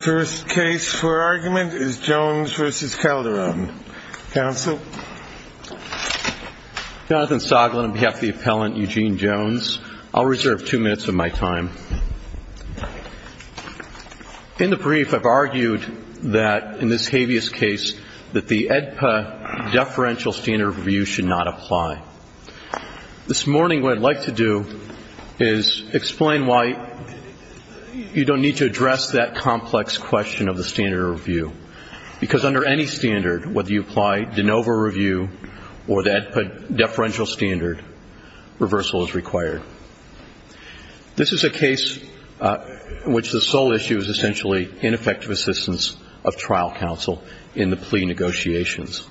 First case for argument is Jones v. Calderon. Counsel? Jonathan Soglin on behalf of the appellant Eugene Jones. I'll reserve two minutes of my time. In the brief, I've argued that in this habeas case that the AEDPA deferential standard review should not apply. This morning what I'd like to do is explain why you don't need to address that complex question of the standard review. Because under any standard, whether you apply de novo review or the AEDPA deferential standard, reversal is required. This is a case in which the sole issue is essentially ineffective assistance of trial counsel in the plea negotiations.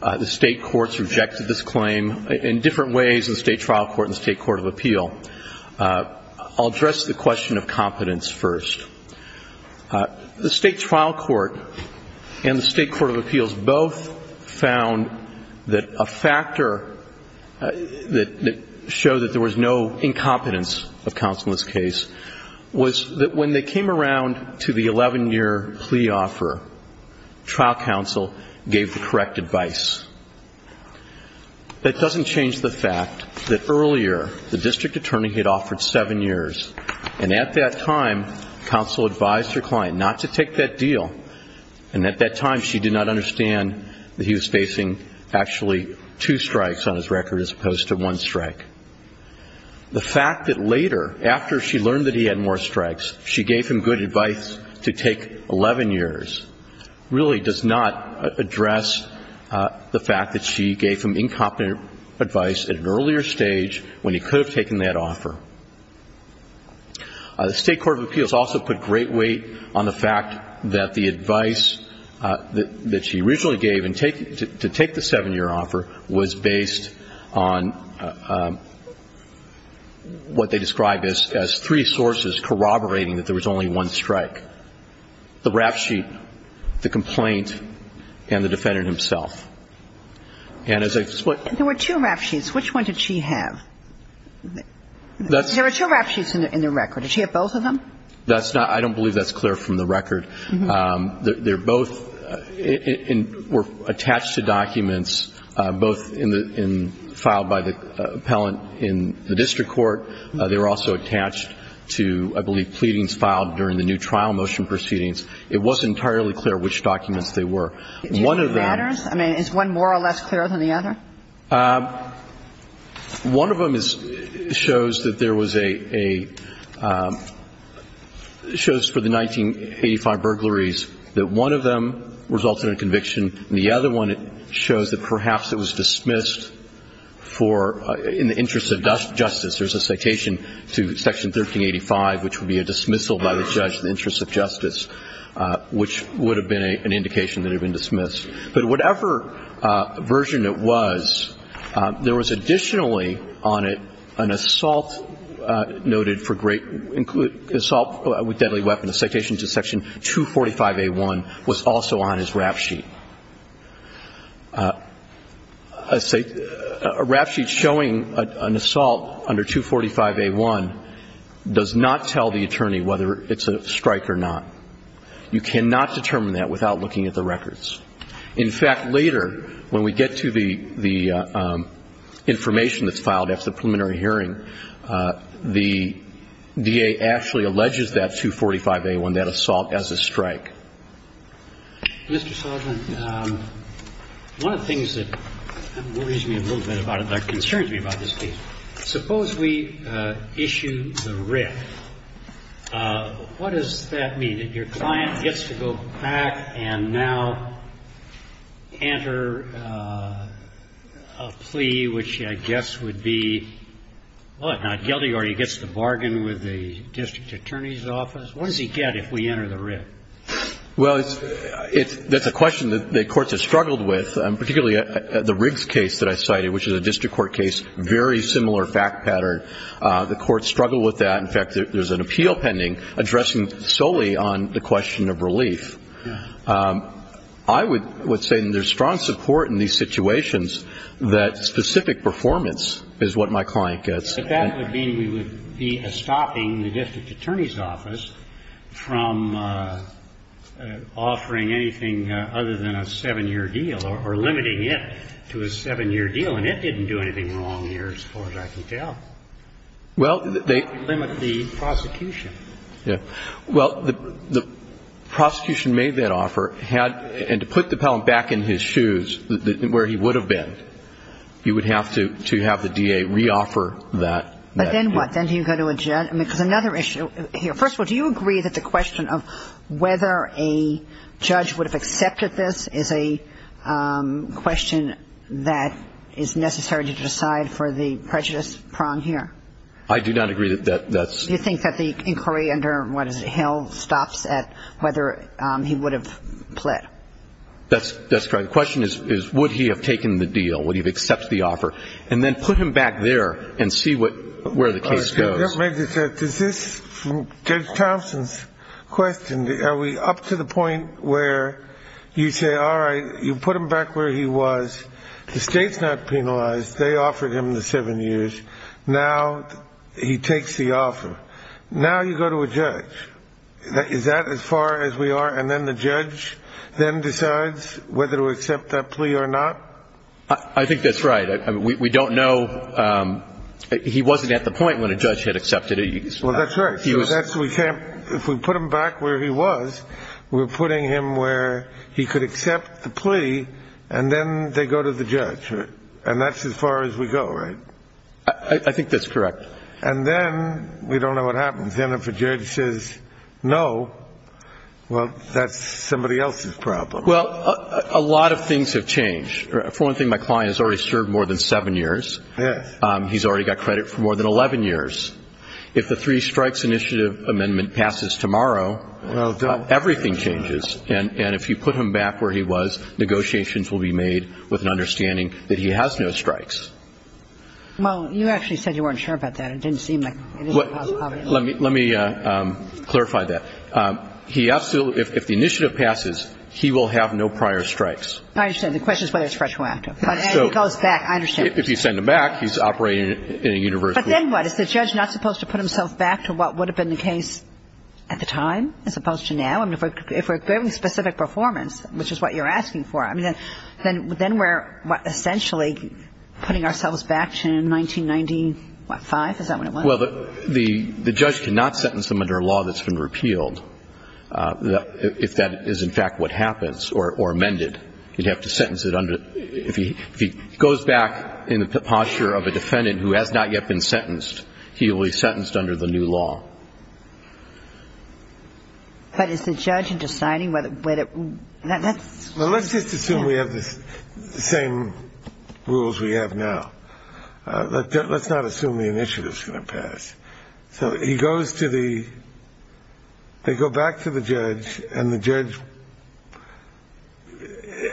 The state courts rejected this claim in different ways, the state trial court and the state court of appeal. I'll address the question of competence first. The state trial court and the state court of appeals both found that a factor that showed that there was no incompetence of counsel in this case was that when they came around to the 11-year plea offer, trial counsel gave the correct advice. That doesn't change the fact that earlier the district attorney had offered seven years. And at that time, counsel advised her client not to take that deal. And at that time, she did not understand that he was facing actually two strikes on his record as opposed to one strike. The fact that later, after she learned that he had more strikes, she gave him good advice to take 11 years, really does not address the fact that she gave him incompetent advice at an earlier stage when he could have taken that offer. The state court of appeals also put great weight on the fact that the advice that she originally gave to take the seven-year offer was based on what they described as three sources corroborating that there was only one strike, the rap sheet, the complaint, and the defendant himself. And as I put – There were two rap sheets. Which one did she have? There were two rap sheets in the record. Did she have both of them? That's not – I don't believe that's clear from the record. They're both – were attached to documents both in the – filed by the appellant in the district court. They were also attached to, I believe, pleadings filed during the new trial motion proceedings. It wasn't entirely clear which documents they were. One of them – Do you know the matters? I mean, is one more or less clear than the other? One of them is – shows that there was a – shows for the 1985 burglaries that one of them resulted in conviction, and the other one shows that perhaps it was dismissed for – in the interest of justice. There's a citation to Section 1385, which would be a dismissal by the judge in the interest of justice, which would have been an indication that it had been dismissed. But whatever version it was, there was additionally on it an assault noted for great – assault with deadly weapon, a citation to Section 245A1, was also on his rap sheet. A rap sheet showing an assault under 245A1 does not tell the attorney whether it's a strike or not. You cannot determine that without looking at the records. In fact, later, when we get to the information that's filed after the preliminary hearing, the DA actually alleges that 245A1, that assault, as a strike. Mr. Soldier, one of the things that worries me a little bit about it, that concerns me about this case, Suppose we issue the writ. What does that mean? That your client gets to go back and now enter a plea which I guess would be, what, not guilty or he gets to bargain with the district attorney's office? What does he get if we enter the writ? Well, it's – that's a question that the courts have struggled with, particularly the Riggs case that I cited, which is a district court case, very similar fact pattern. The courts struggle with that. In fact, there's an appeal pending addressing solely on the question of relief. I would say there's strong support in these situations that specific performance is what my client gets. But that would mean we would be stopping the district attorney's office from offering anything other than a seven-year deal or limiting it to a seven-year deal. And it didn't do anything wrong here as far as I can tell. Well, they – It limited the prosecution. Yeah. Well, the prosecution made that offer and to put the felon back in his shoes where he would have been, he would have to have the DA reoffer that. But then what? Then do you go to a judge? Because another issue here, first of all, Do you agree that the question of whether a judge would have accepted this is a question that is necessary to decide for the prejudice prong here? I do not agree that that's – Do you think that the inquiry under, what is it, Hill stops at whether he would have pled? That's correct. The question is would he have taken the deal, would he have accepted the offer, and then put him back there and see what – where the case goes. Judge Thompson's question, are we up to the point where you say, all right, you put him back where he was. The state's not penalized. They offered him the seven years. Now he takes the offer. Now you go to a judge. Is that as far as we are? And then the judge then decides whether to accept that plea or not? I think that's right. We don't know – he wasn't at the point when a judge had accepted it. Well, that's right. If we put him back where he was, we're putting him where he could accept the plea, and then they go to the judge. And that's as far as we go, right? I think that's correct. And then we don't know what happens. Then if a judge says no, well, that's somebody else's problem. Well, a lot of things have changed. For one thing, my client has already served more than seven years. He's already got credit for more than 11 years. If the three strikes initiative amendment passes tomorrow, everything changes. And if you put him back where he was, negotiations will be made with an understanding that he has no strikes. Well, you actually said you weren't sure about that. It didn't seem like it was a possibility. Let me clarify that. If the initiative passes, he will have no prior strikes. I understand. The question is whether it's fresh or active. But, hey, he goes back. I understand. If you send him back, he's operating in a universal way. But then what? Is the judge not supposed to put himself back to what would have been the case at the time as opposed to now? I mean, if we're giving specific performance, which is what you're asking for, I mean, then we're essentially putting ourselves back to 1995? Is that what it was? Well, the judge cannot sentence him under a law that's been repealed if that is, in fact, what happens or amended. You'd have to sentence it under the ‑‑ if he goes back in the posture of a defendant who has not yet been sentenced, he will be sentenced under the new law. But is the judge deciding whether ‑‑ Well, let's just assume we have the same rules we have now. Let's not assume the initiative is going to pass. So he goes to the ‑‑ they go back to the judge, and the judge,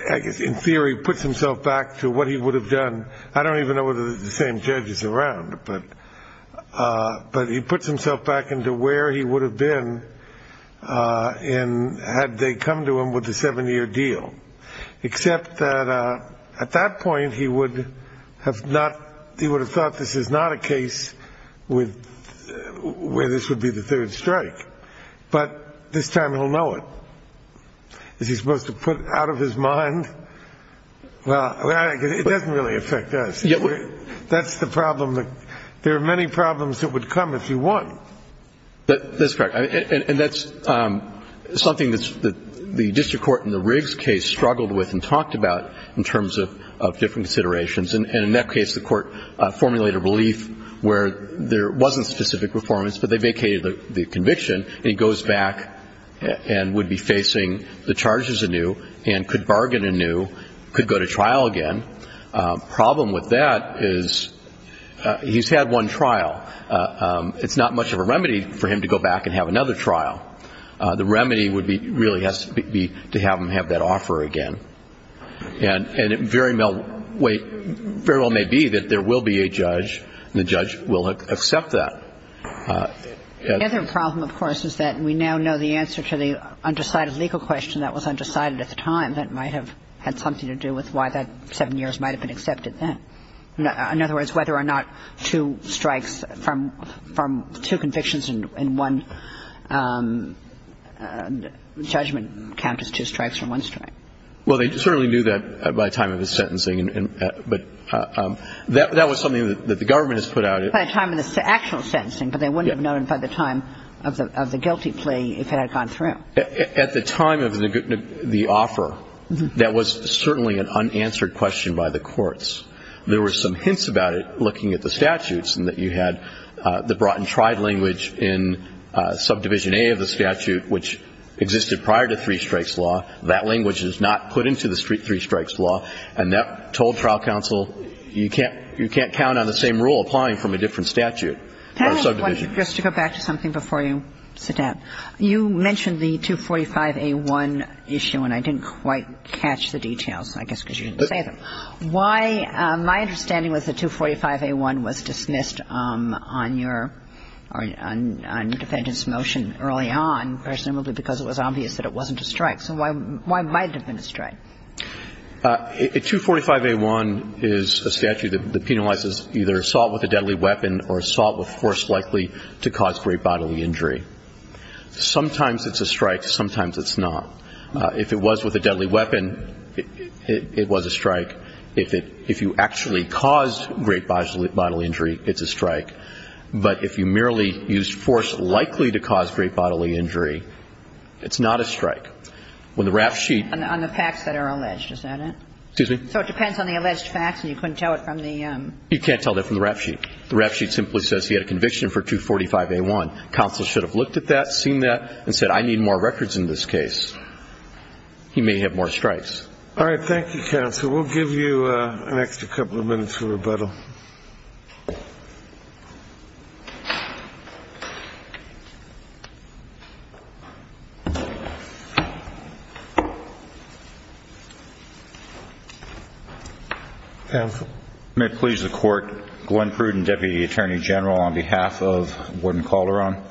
I guess, in theory, puts himself back to what he would have done. I don't even know whether the same judge is around. But he puts himself back into where he would have been had they come to him with the seven‑year deal, except that at that point he would have thought this is not a case where this would be the third strike. But this time he'll know it. Is he supposed to put it out of his mind? Well, it doesn't really affect us. That's the problem. There are many problems that would come if he won. That's correct. And that's something that the district court in the Riggs case struggled with and talked about in terms of different considerations. And in that case, the court formulated a relief where there wasn't specific performance, but they vacated the conviction, and he goes back and would be facing the charges anew and could bargain anew, could go to trial again. The problem with that is he's had one trial. It's not much of a remedy for him to go back and have another trial. The remedy really has to be to have him have that offer again. And it very well may be that there will be a judge, and the judge will accept that. The other problem, of course, is that we now know the answer to the undecided legal question that was undecided at the time that might have had something to do with why that seven years might have been accepted then. In other words, whether or not two strikes from two convictions and one judgment count as two strikes from one strike. Well, they certainly knew that by the time of his sentencing, but that was something that the government has put out. By the time of the actual sentencing, but they wouldn't have known by the time of the guilty plea if it had gone through. At the time of the offer, that was certainly an unanswered question by the courts. There were some hints about it looking at the statutes, and that you had the brought-and-tried language in Subdivision A of the statute, which existed prior to three-strikes law. That language is not put into the three-strikes law, and that told trial counsel, you can't count on the same rule applying from a different statute or subdivision. Just to go back to something before you sit down, you mentioned the 245A1 issue, and I didn't quite catch the details, I guess because you didn't say them. Why? My understanding was that 245A1 was dismissed on your defendant's motion early on, presumably because it was obvious that it wasn't a strike. So why might it have been a strike? A 245A1 is a statute that penalizes either assault with a deadly weapon or assault with force likely to cause great bodily injury. Sometimes it's a strike. Sometimes it's not. If it was with a deadly weapon, it was a strike. If you actually caused great bodily injury, it's a strike. But if you merely used force likely to cause great bodily injury, it's not a strike. When the rap sheet ---- On the facts that are alleged, is that it? Excuse me? So it depends on the alleged facts, and you couldn't tell it from the ---- You can't tell that from the rap sheet. The rap sheet simply says he had a conviction for 245A1. Counsel should have looked at that, seen that, and said, I need more records in this case. He may have more strikes. All right, thank you, counsel. May it please the Court, Glenn Pruden, Deputy Attorney General, on behalf of Warden Calderon.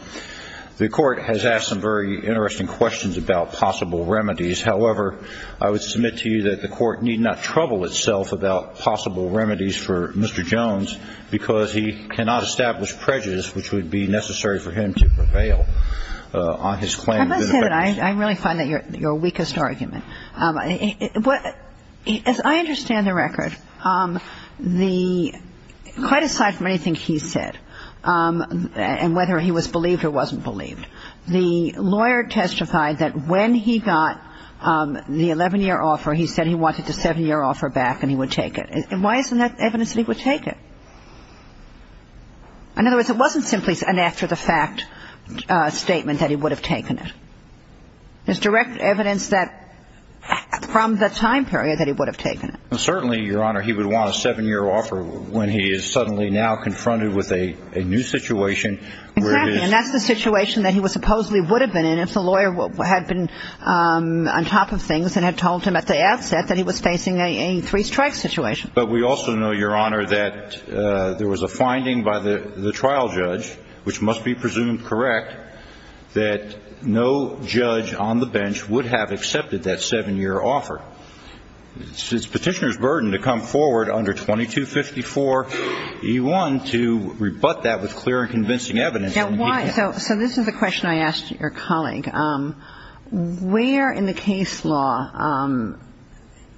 The Court has asked some very interesting questions about possible remedies. However, I would submit to you that the Court need not trouble itself about possible remedies for Mr. Jones. Because he cannot establish prejudice, which would be necessary for him to prevail on his claim. I must say that I really find that your weakest argument. As I understand the record, the ---- quite aside from anything he said, and whether he was believed or wasn't believed, the lawyer testified that when he got the 11-year offer, he said he wanted the 7-year offer back and he would take it. And why isn't that evidence that he would take it? In other words, it wasn't simply an after-the-fact statement that he would have taken it. There's direct evidence that from the time period that he would have taken it. Certainly, Your Honor, he would want a 7-year offer when he is suddenly now confronted with a new situation where it is ---- Exactly, and that's the situation that he supposedly would have been in if the lawyer had been on top of things and had told him at the outset that he was facing a three-strike situation. But we also know, Your Honor, that there was a finding by the trial judge, which must be presumed correct, that no judge on the bench would have accepted that 7-year offer. It's Petitioner's burden to come forward under 2254e1 to rebut that with clear and convincing evidence. So this is a question I asked your colleague. Where in the case law,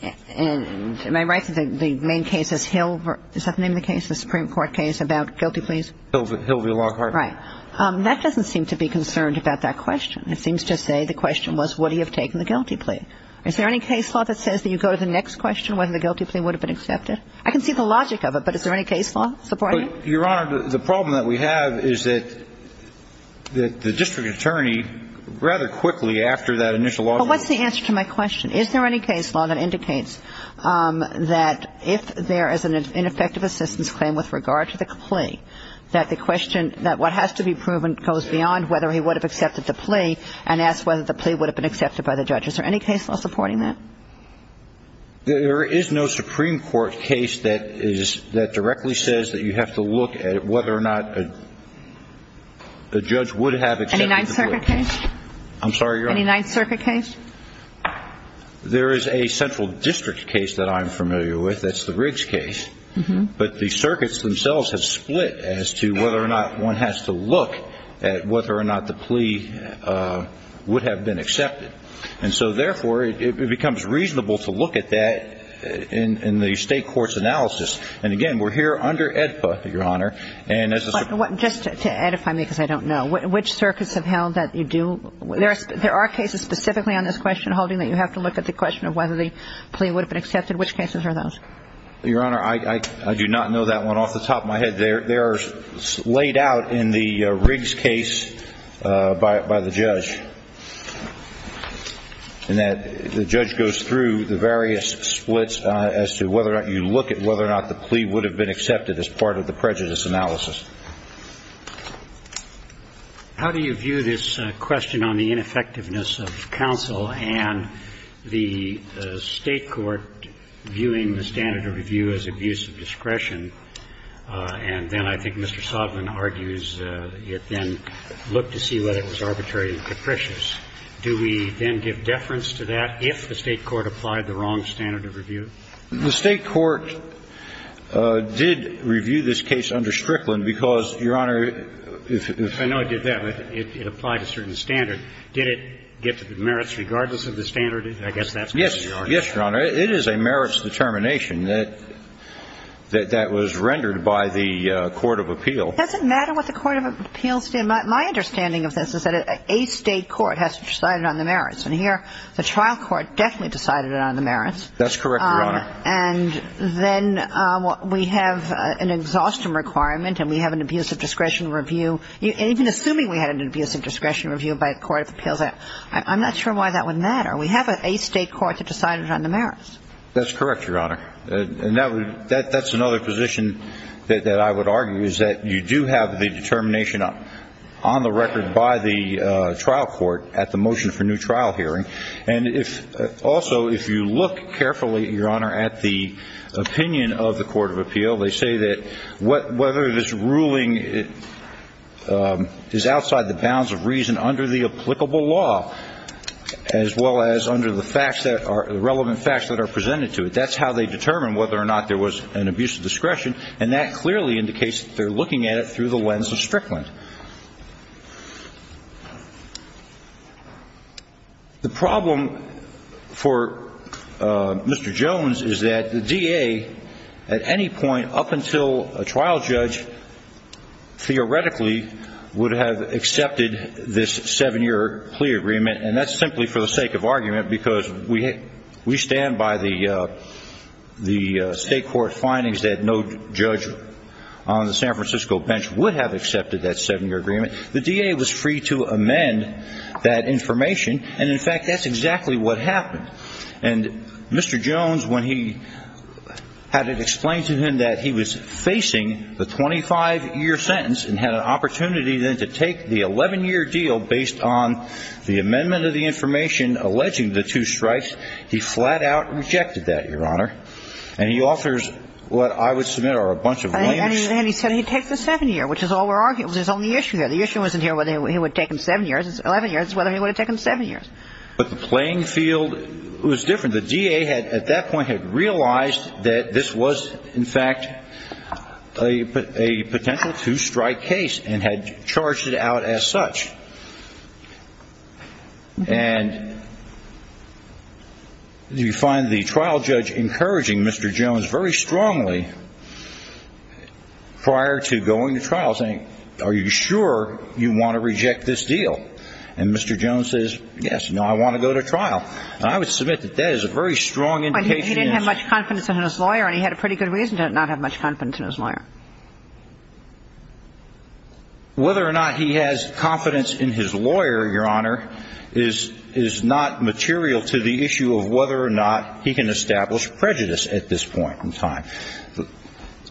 and am I right that the main case is Hill? Is that the name of the case, the Supreme Court case about guilty pleas? Hill v. Lockhart. Right. That doesn't seem to be concerned about that question. It seems to say the question was would he have taken the guilty plea. Is there any case law that says that you go to the next question whether the guilty plea would have been accepted? I can see the logic of it, but is there any case law supporting it? Well, Your Honor, the problem that we have is that the district attorney rather quickly after that initial offer. Well, what's the answer to my question? Is there any case law that indicates that if there is an ineffective assistance claim with regard to the plea, that the question, that what has to be proven goes beyond whether he would have accepted the plea and asked whether the plea would have been accepted by the judge. Is there any case law supporting that? There is no Supreme Court case that directly says that you have to look at whether or not the judge would have accepted the plea. Any Ninth Circuit case? I'm sorry, Your Honor. Any Ninth Circuit case? There is a central district case that I'm familiar with. That's the Riggs case. But the circuits themselves have split as to whether or not one has to look at whether or not the plea would have been accepted. And so, therefore, it becomes reasonable to look at that in the state court's analysis. And, again, we're here under AEDPA, Your Honor. Just to edify me because I don't know. Which circuits have held that you do? There are cases specifically on this question holding that you have to look at the question of whether the plea would have been accepted. Which cases are those? Your Honor, I do not know that one off the top of my head. They are laid out in the Riggs case by the judge. And the judge goes through the various splits as to whether or not you look at whether or not the plea would have been accepted as part of the prejudice analysis. How do you view this question on the ineffectiveness of counsel and the state court viewing the standard of review as abuse of discretion? And then I think Mr. Sodman argues it then looked to see whether it was arbitrary and capricious. Do we then give deference to that if the state court applied the wrong standard of review? The state court did review this case under Strickland because, Your Honor, if it was Yes, Your Honor. It is a merits determination that was rendered by the court of appeal. Does it matter what the court of appeals did? My understanding of this is that a state court has decided on the merits. And here the trial court definitely decided on the merits. That's correct, Your Honor. And then we have an exhaustion requirement and we have an abuse of discretion review. And even assuming we had an abuse of discretion review by the court of appeals, I'm not sure why that would matter. We have a state court that decided on the merits. That's correct, Your Honor. And that's another position that I would argue is that you do have the determination on the record by the trial court at the motion for new trial hearing. And also if you look carefully, Your Honor, at the opinion of the court of appeal, they say that whether this ruling is outside the bounds of reason under the applicable law, as well as under the relevant facts that are presented to it, that's how they determine whether or not there was an abuse of discretion. And that clearly indicates that they're looking at it through the lens of Strickland. The problem for Mr. Jones is that the DA, at any point up until a trial judge, theoretically would have accepted this seven-year plea agreement. And that's simply for the sake of argument because we stand by the state court findings that no judge on the San Francisco bench would have accepted that seven-year plea agreement. The DA was free to amend that information. And, in fact, that's exactly what happened. And Mr. Jones, when he had it explained to him that he was facing the 25-year sentence and had an opportunity then to take the 11-year deal based on the amendment of the information alleging the two strikes, he flat-out rejected that, Your Honor. And he offers what I would submit are a bunch of lame excuses. And he said he'd take the seven-year, which is all we're arguing. There's only issue here. The issue isn't here whether he would take them seven years. It's 11 years, whether he would have taken seven years. But the playing field was different. The DA at that point had realized that this was, in fact, a potential two-strike case and had charged it out as such. And you find the trial judge encouraging Mr. Jones very strongly prior to going to trial saying, are you sure you want to reject this deal? And Mr. Jones says, yes, no, I want to go to trial. And I would submit that that is a very strong indication. But he didn't have much confidence in his lawyer, and he had a pretty good reason to not have much confidence in his lawyer. Whether or not he has confidence in his lawyer, Your Honor, is not material to the issue of whether or not he can establish prejudice at this point in time.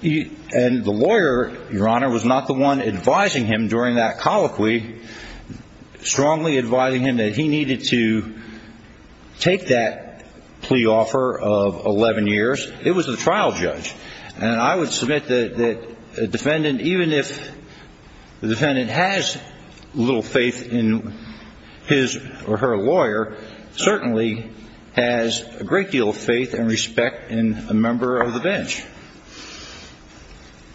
And the lawyer, Your Honor, was not the one advising him during that colloquy, strongly advising him that he needed to take that plea offer of 11 years. It was the trial judge. And I would submit that a defendant, even if the defendant has little faith in his or her lawyer, certainly has a great deal of faith and respect in a member of the bench.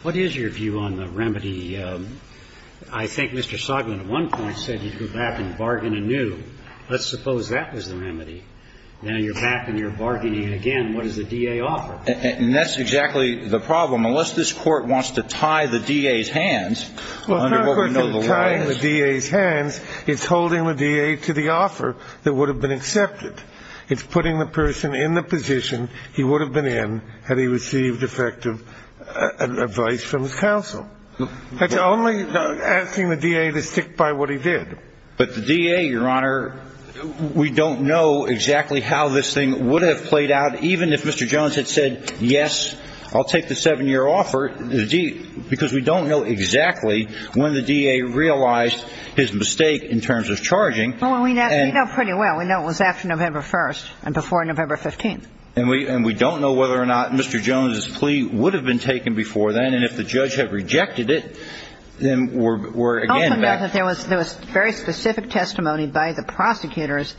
What is your view on the remedy? I think Mr. Soglin at one point said he'd go back and bargain anew. Let's suppose that was the remedy. Now you're back and you're bargaining again. What does the DA offer? And that's exactly the problem. Unless this Court wants to tie the DA's hands under what we know the law is. Well, if it's not a question of tying the DA's hands, it's holding the DA to the offer that would have been accepted. It's putting the person in the position he would have been in had he received effective advice from his counsel. That's only asking the DA to stick by what he did. But the DA, Your Honor, we don't know exactly how this thing would have played out, even if Mr. Jones had said, yes, I'll take the seven-year offer, because we don't know exactly when the DA realized his mistake in terms of charging. Well, we know pretty well. We know it was after November 1st and before November 15th. And we don't know whether or not Mr. Jones's plea would have been taken before then, and if the judge had rejected it, then we're again back. There was very specific testimony by the prosecutors,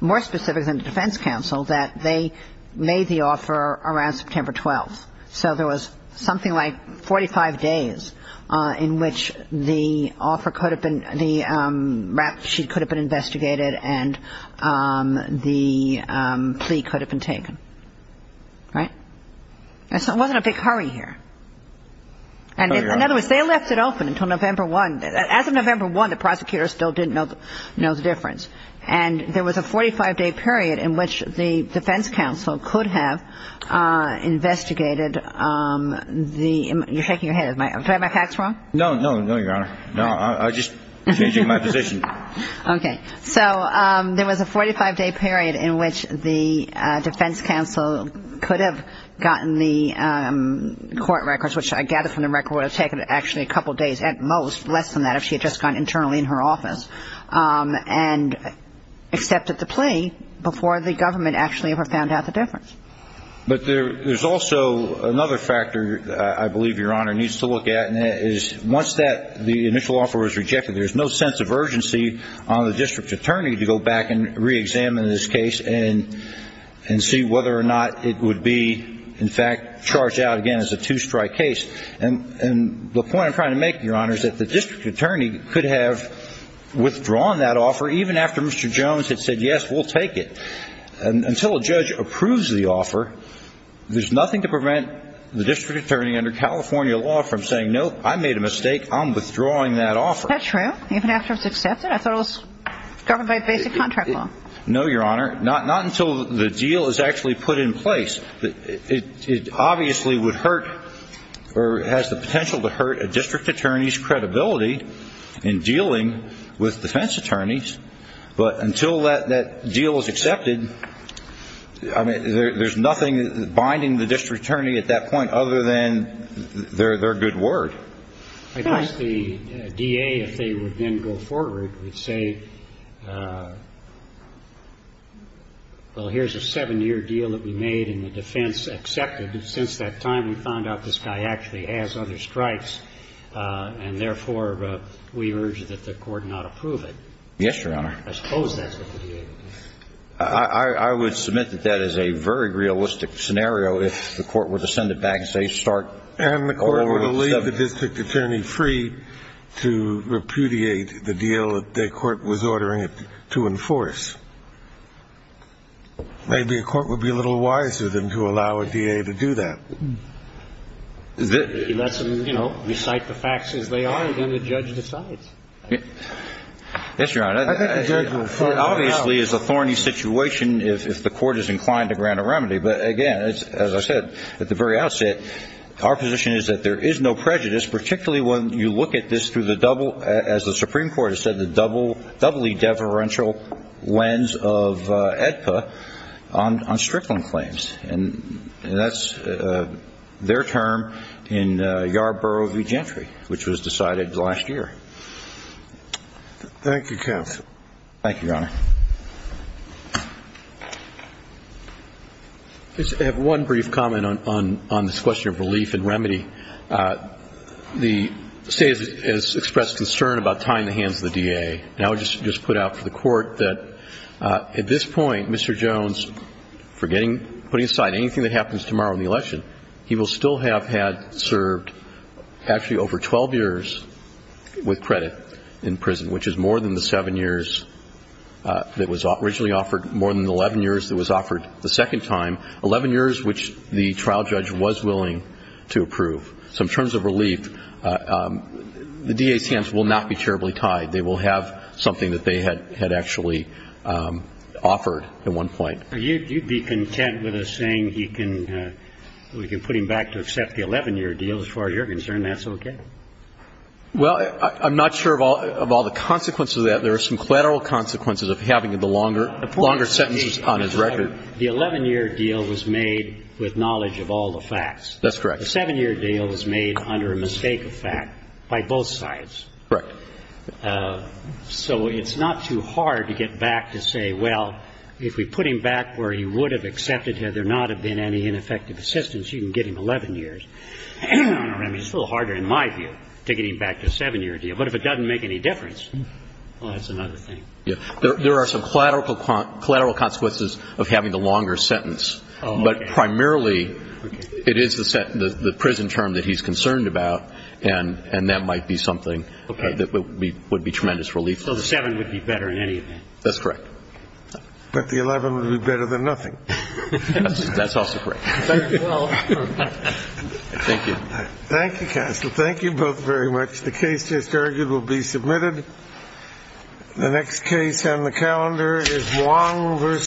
more specific than the defense counsel, that they made the offer around September 12th. So there was something like 45 days in which the offer could have been, the rap sheet could have been investigated and the plea could have been taken. Right? It wasn't a big hurry here. And in other words, they left it open until November 1. As of November 1, the prosecutors still didn't know the difference. And there was a 45-day period in which the defense counsel could have investigated the ‑‑ you're shaking your head. Did I have my facts wrong? No, no, no, Your Honor. No, I was just changing my position. Okay. So there was a 45-day period in which the defense counsel could have gotten the court records, which I gather from the record would have taken actually a couple days at most, less than that if she had just gone internally in her office. And accepted the plea before the government actually ever found out the difference. But there's also another factor, I believe, Your Honor, needs to look at, and that is once the initial offer was rejected, there's no sense of urgency on the district attorney to go back and reexamine this case and see whether or not it would be, in fact, charged out again as a two‑strike case. And the point I'm trying to make, Your Honor, is that the district attorney could have withdrawn that offer even after Mr. Jones had said, yes, we'll take it. Until a judge approves the offer, there's nothing to prevent the district attorney under California law from saying, nope, I made a mistake, I'm withdrawing that offer. Is that true? Even after it was accepted? I thought it was governed by basic contract law. No, Your Honor. Not until the deal is actually put in place. It obviously would hurt or has the potential to hurt a district attorney's credibility in dealing with defense attorneys. But until that deal is accepted, there's nothing binding the district attorney at that point other than their good word. I guess the DA, if they would then go forward, would say, well, here's a seven‑year deal that we made in the defense, accepted. Since that time, we found out this guy actually has other strikes, and therefore we urge that the court not approve it. Yes, Your Honor. I suppose that's what the DA would do. I would submit that that is a very realistic scenario if the court were to send it back and say, start over. And the court would leave the district attorney free to repudiate the deal that the court was ordering it to do. And the DA would then have the right to enforce. Maybe a court would be a little wiser than to allow a DA to do that. He lets them recite the facts as they are, and then the judge decides. Yes, Your Honor. I think the judge will throw it out. It obviously is a thorny situation if the court is inclined to grant a remedy. But, again, as I said at the very outset, our position is that there is no prejudice, particularly when you look at this through the double, as the Supreme Court has said, the doubly deferential lens of AEDPA on Strickland claims. And that's their term in Yarborough v. Gentry, which was decided last year. Thank you, counsel. Thank you, Your Honor. I just have one brief comment on this question of relief and remedy. The state has expressed concern about tying the hands of the DA. And I would just put out to the court that at this point, Mr. Jones, forgetting, putting aside anything that happens tomorrow in the election, he will still have had served actually over 12 years with credit in prison, which is more than the seven years that was originally offered, more than the 11 years that was offered the second time, 11 years which the trial judge was willing to approve. So in terms of relief, the DA's hands will not be terribly tied. They will have something that they had actually offered at one point. You'd be content with us saying we can put him back to accept the 11-year deal as far as you're concerned? That's okay? Well, I'm not sure of all the consequences of that. There are some collateral consequences of having the longer sentences on his record. The 11-year deal was made with knowledge of all the facts. That's correct. The seven-year deal was made under a mistake of fact by both sides. Correct. So it's not too hard to get back to say, well, if we put him back where he would have accepted, had there not have been any ineffective assistance, you can get him 11 years. I mean, it's a little harder in my view to get him back to a seven-year deal. But if it doesn't make any difference, well, that's another thing. Yeah. There are some collateral consequences of having the longer sentence. But primarily it is the prison term that he's concerned about, and that might be something that would be tremendous relief. So the seven would be better in any event? That's correct. But the 11 would be better than nothing. That's also correct. Thank you. Thank you, Counsel. Thank you both very much. The case just argued will be submitted. The next case on the calendar is Wong v.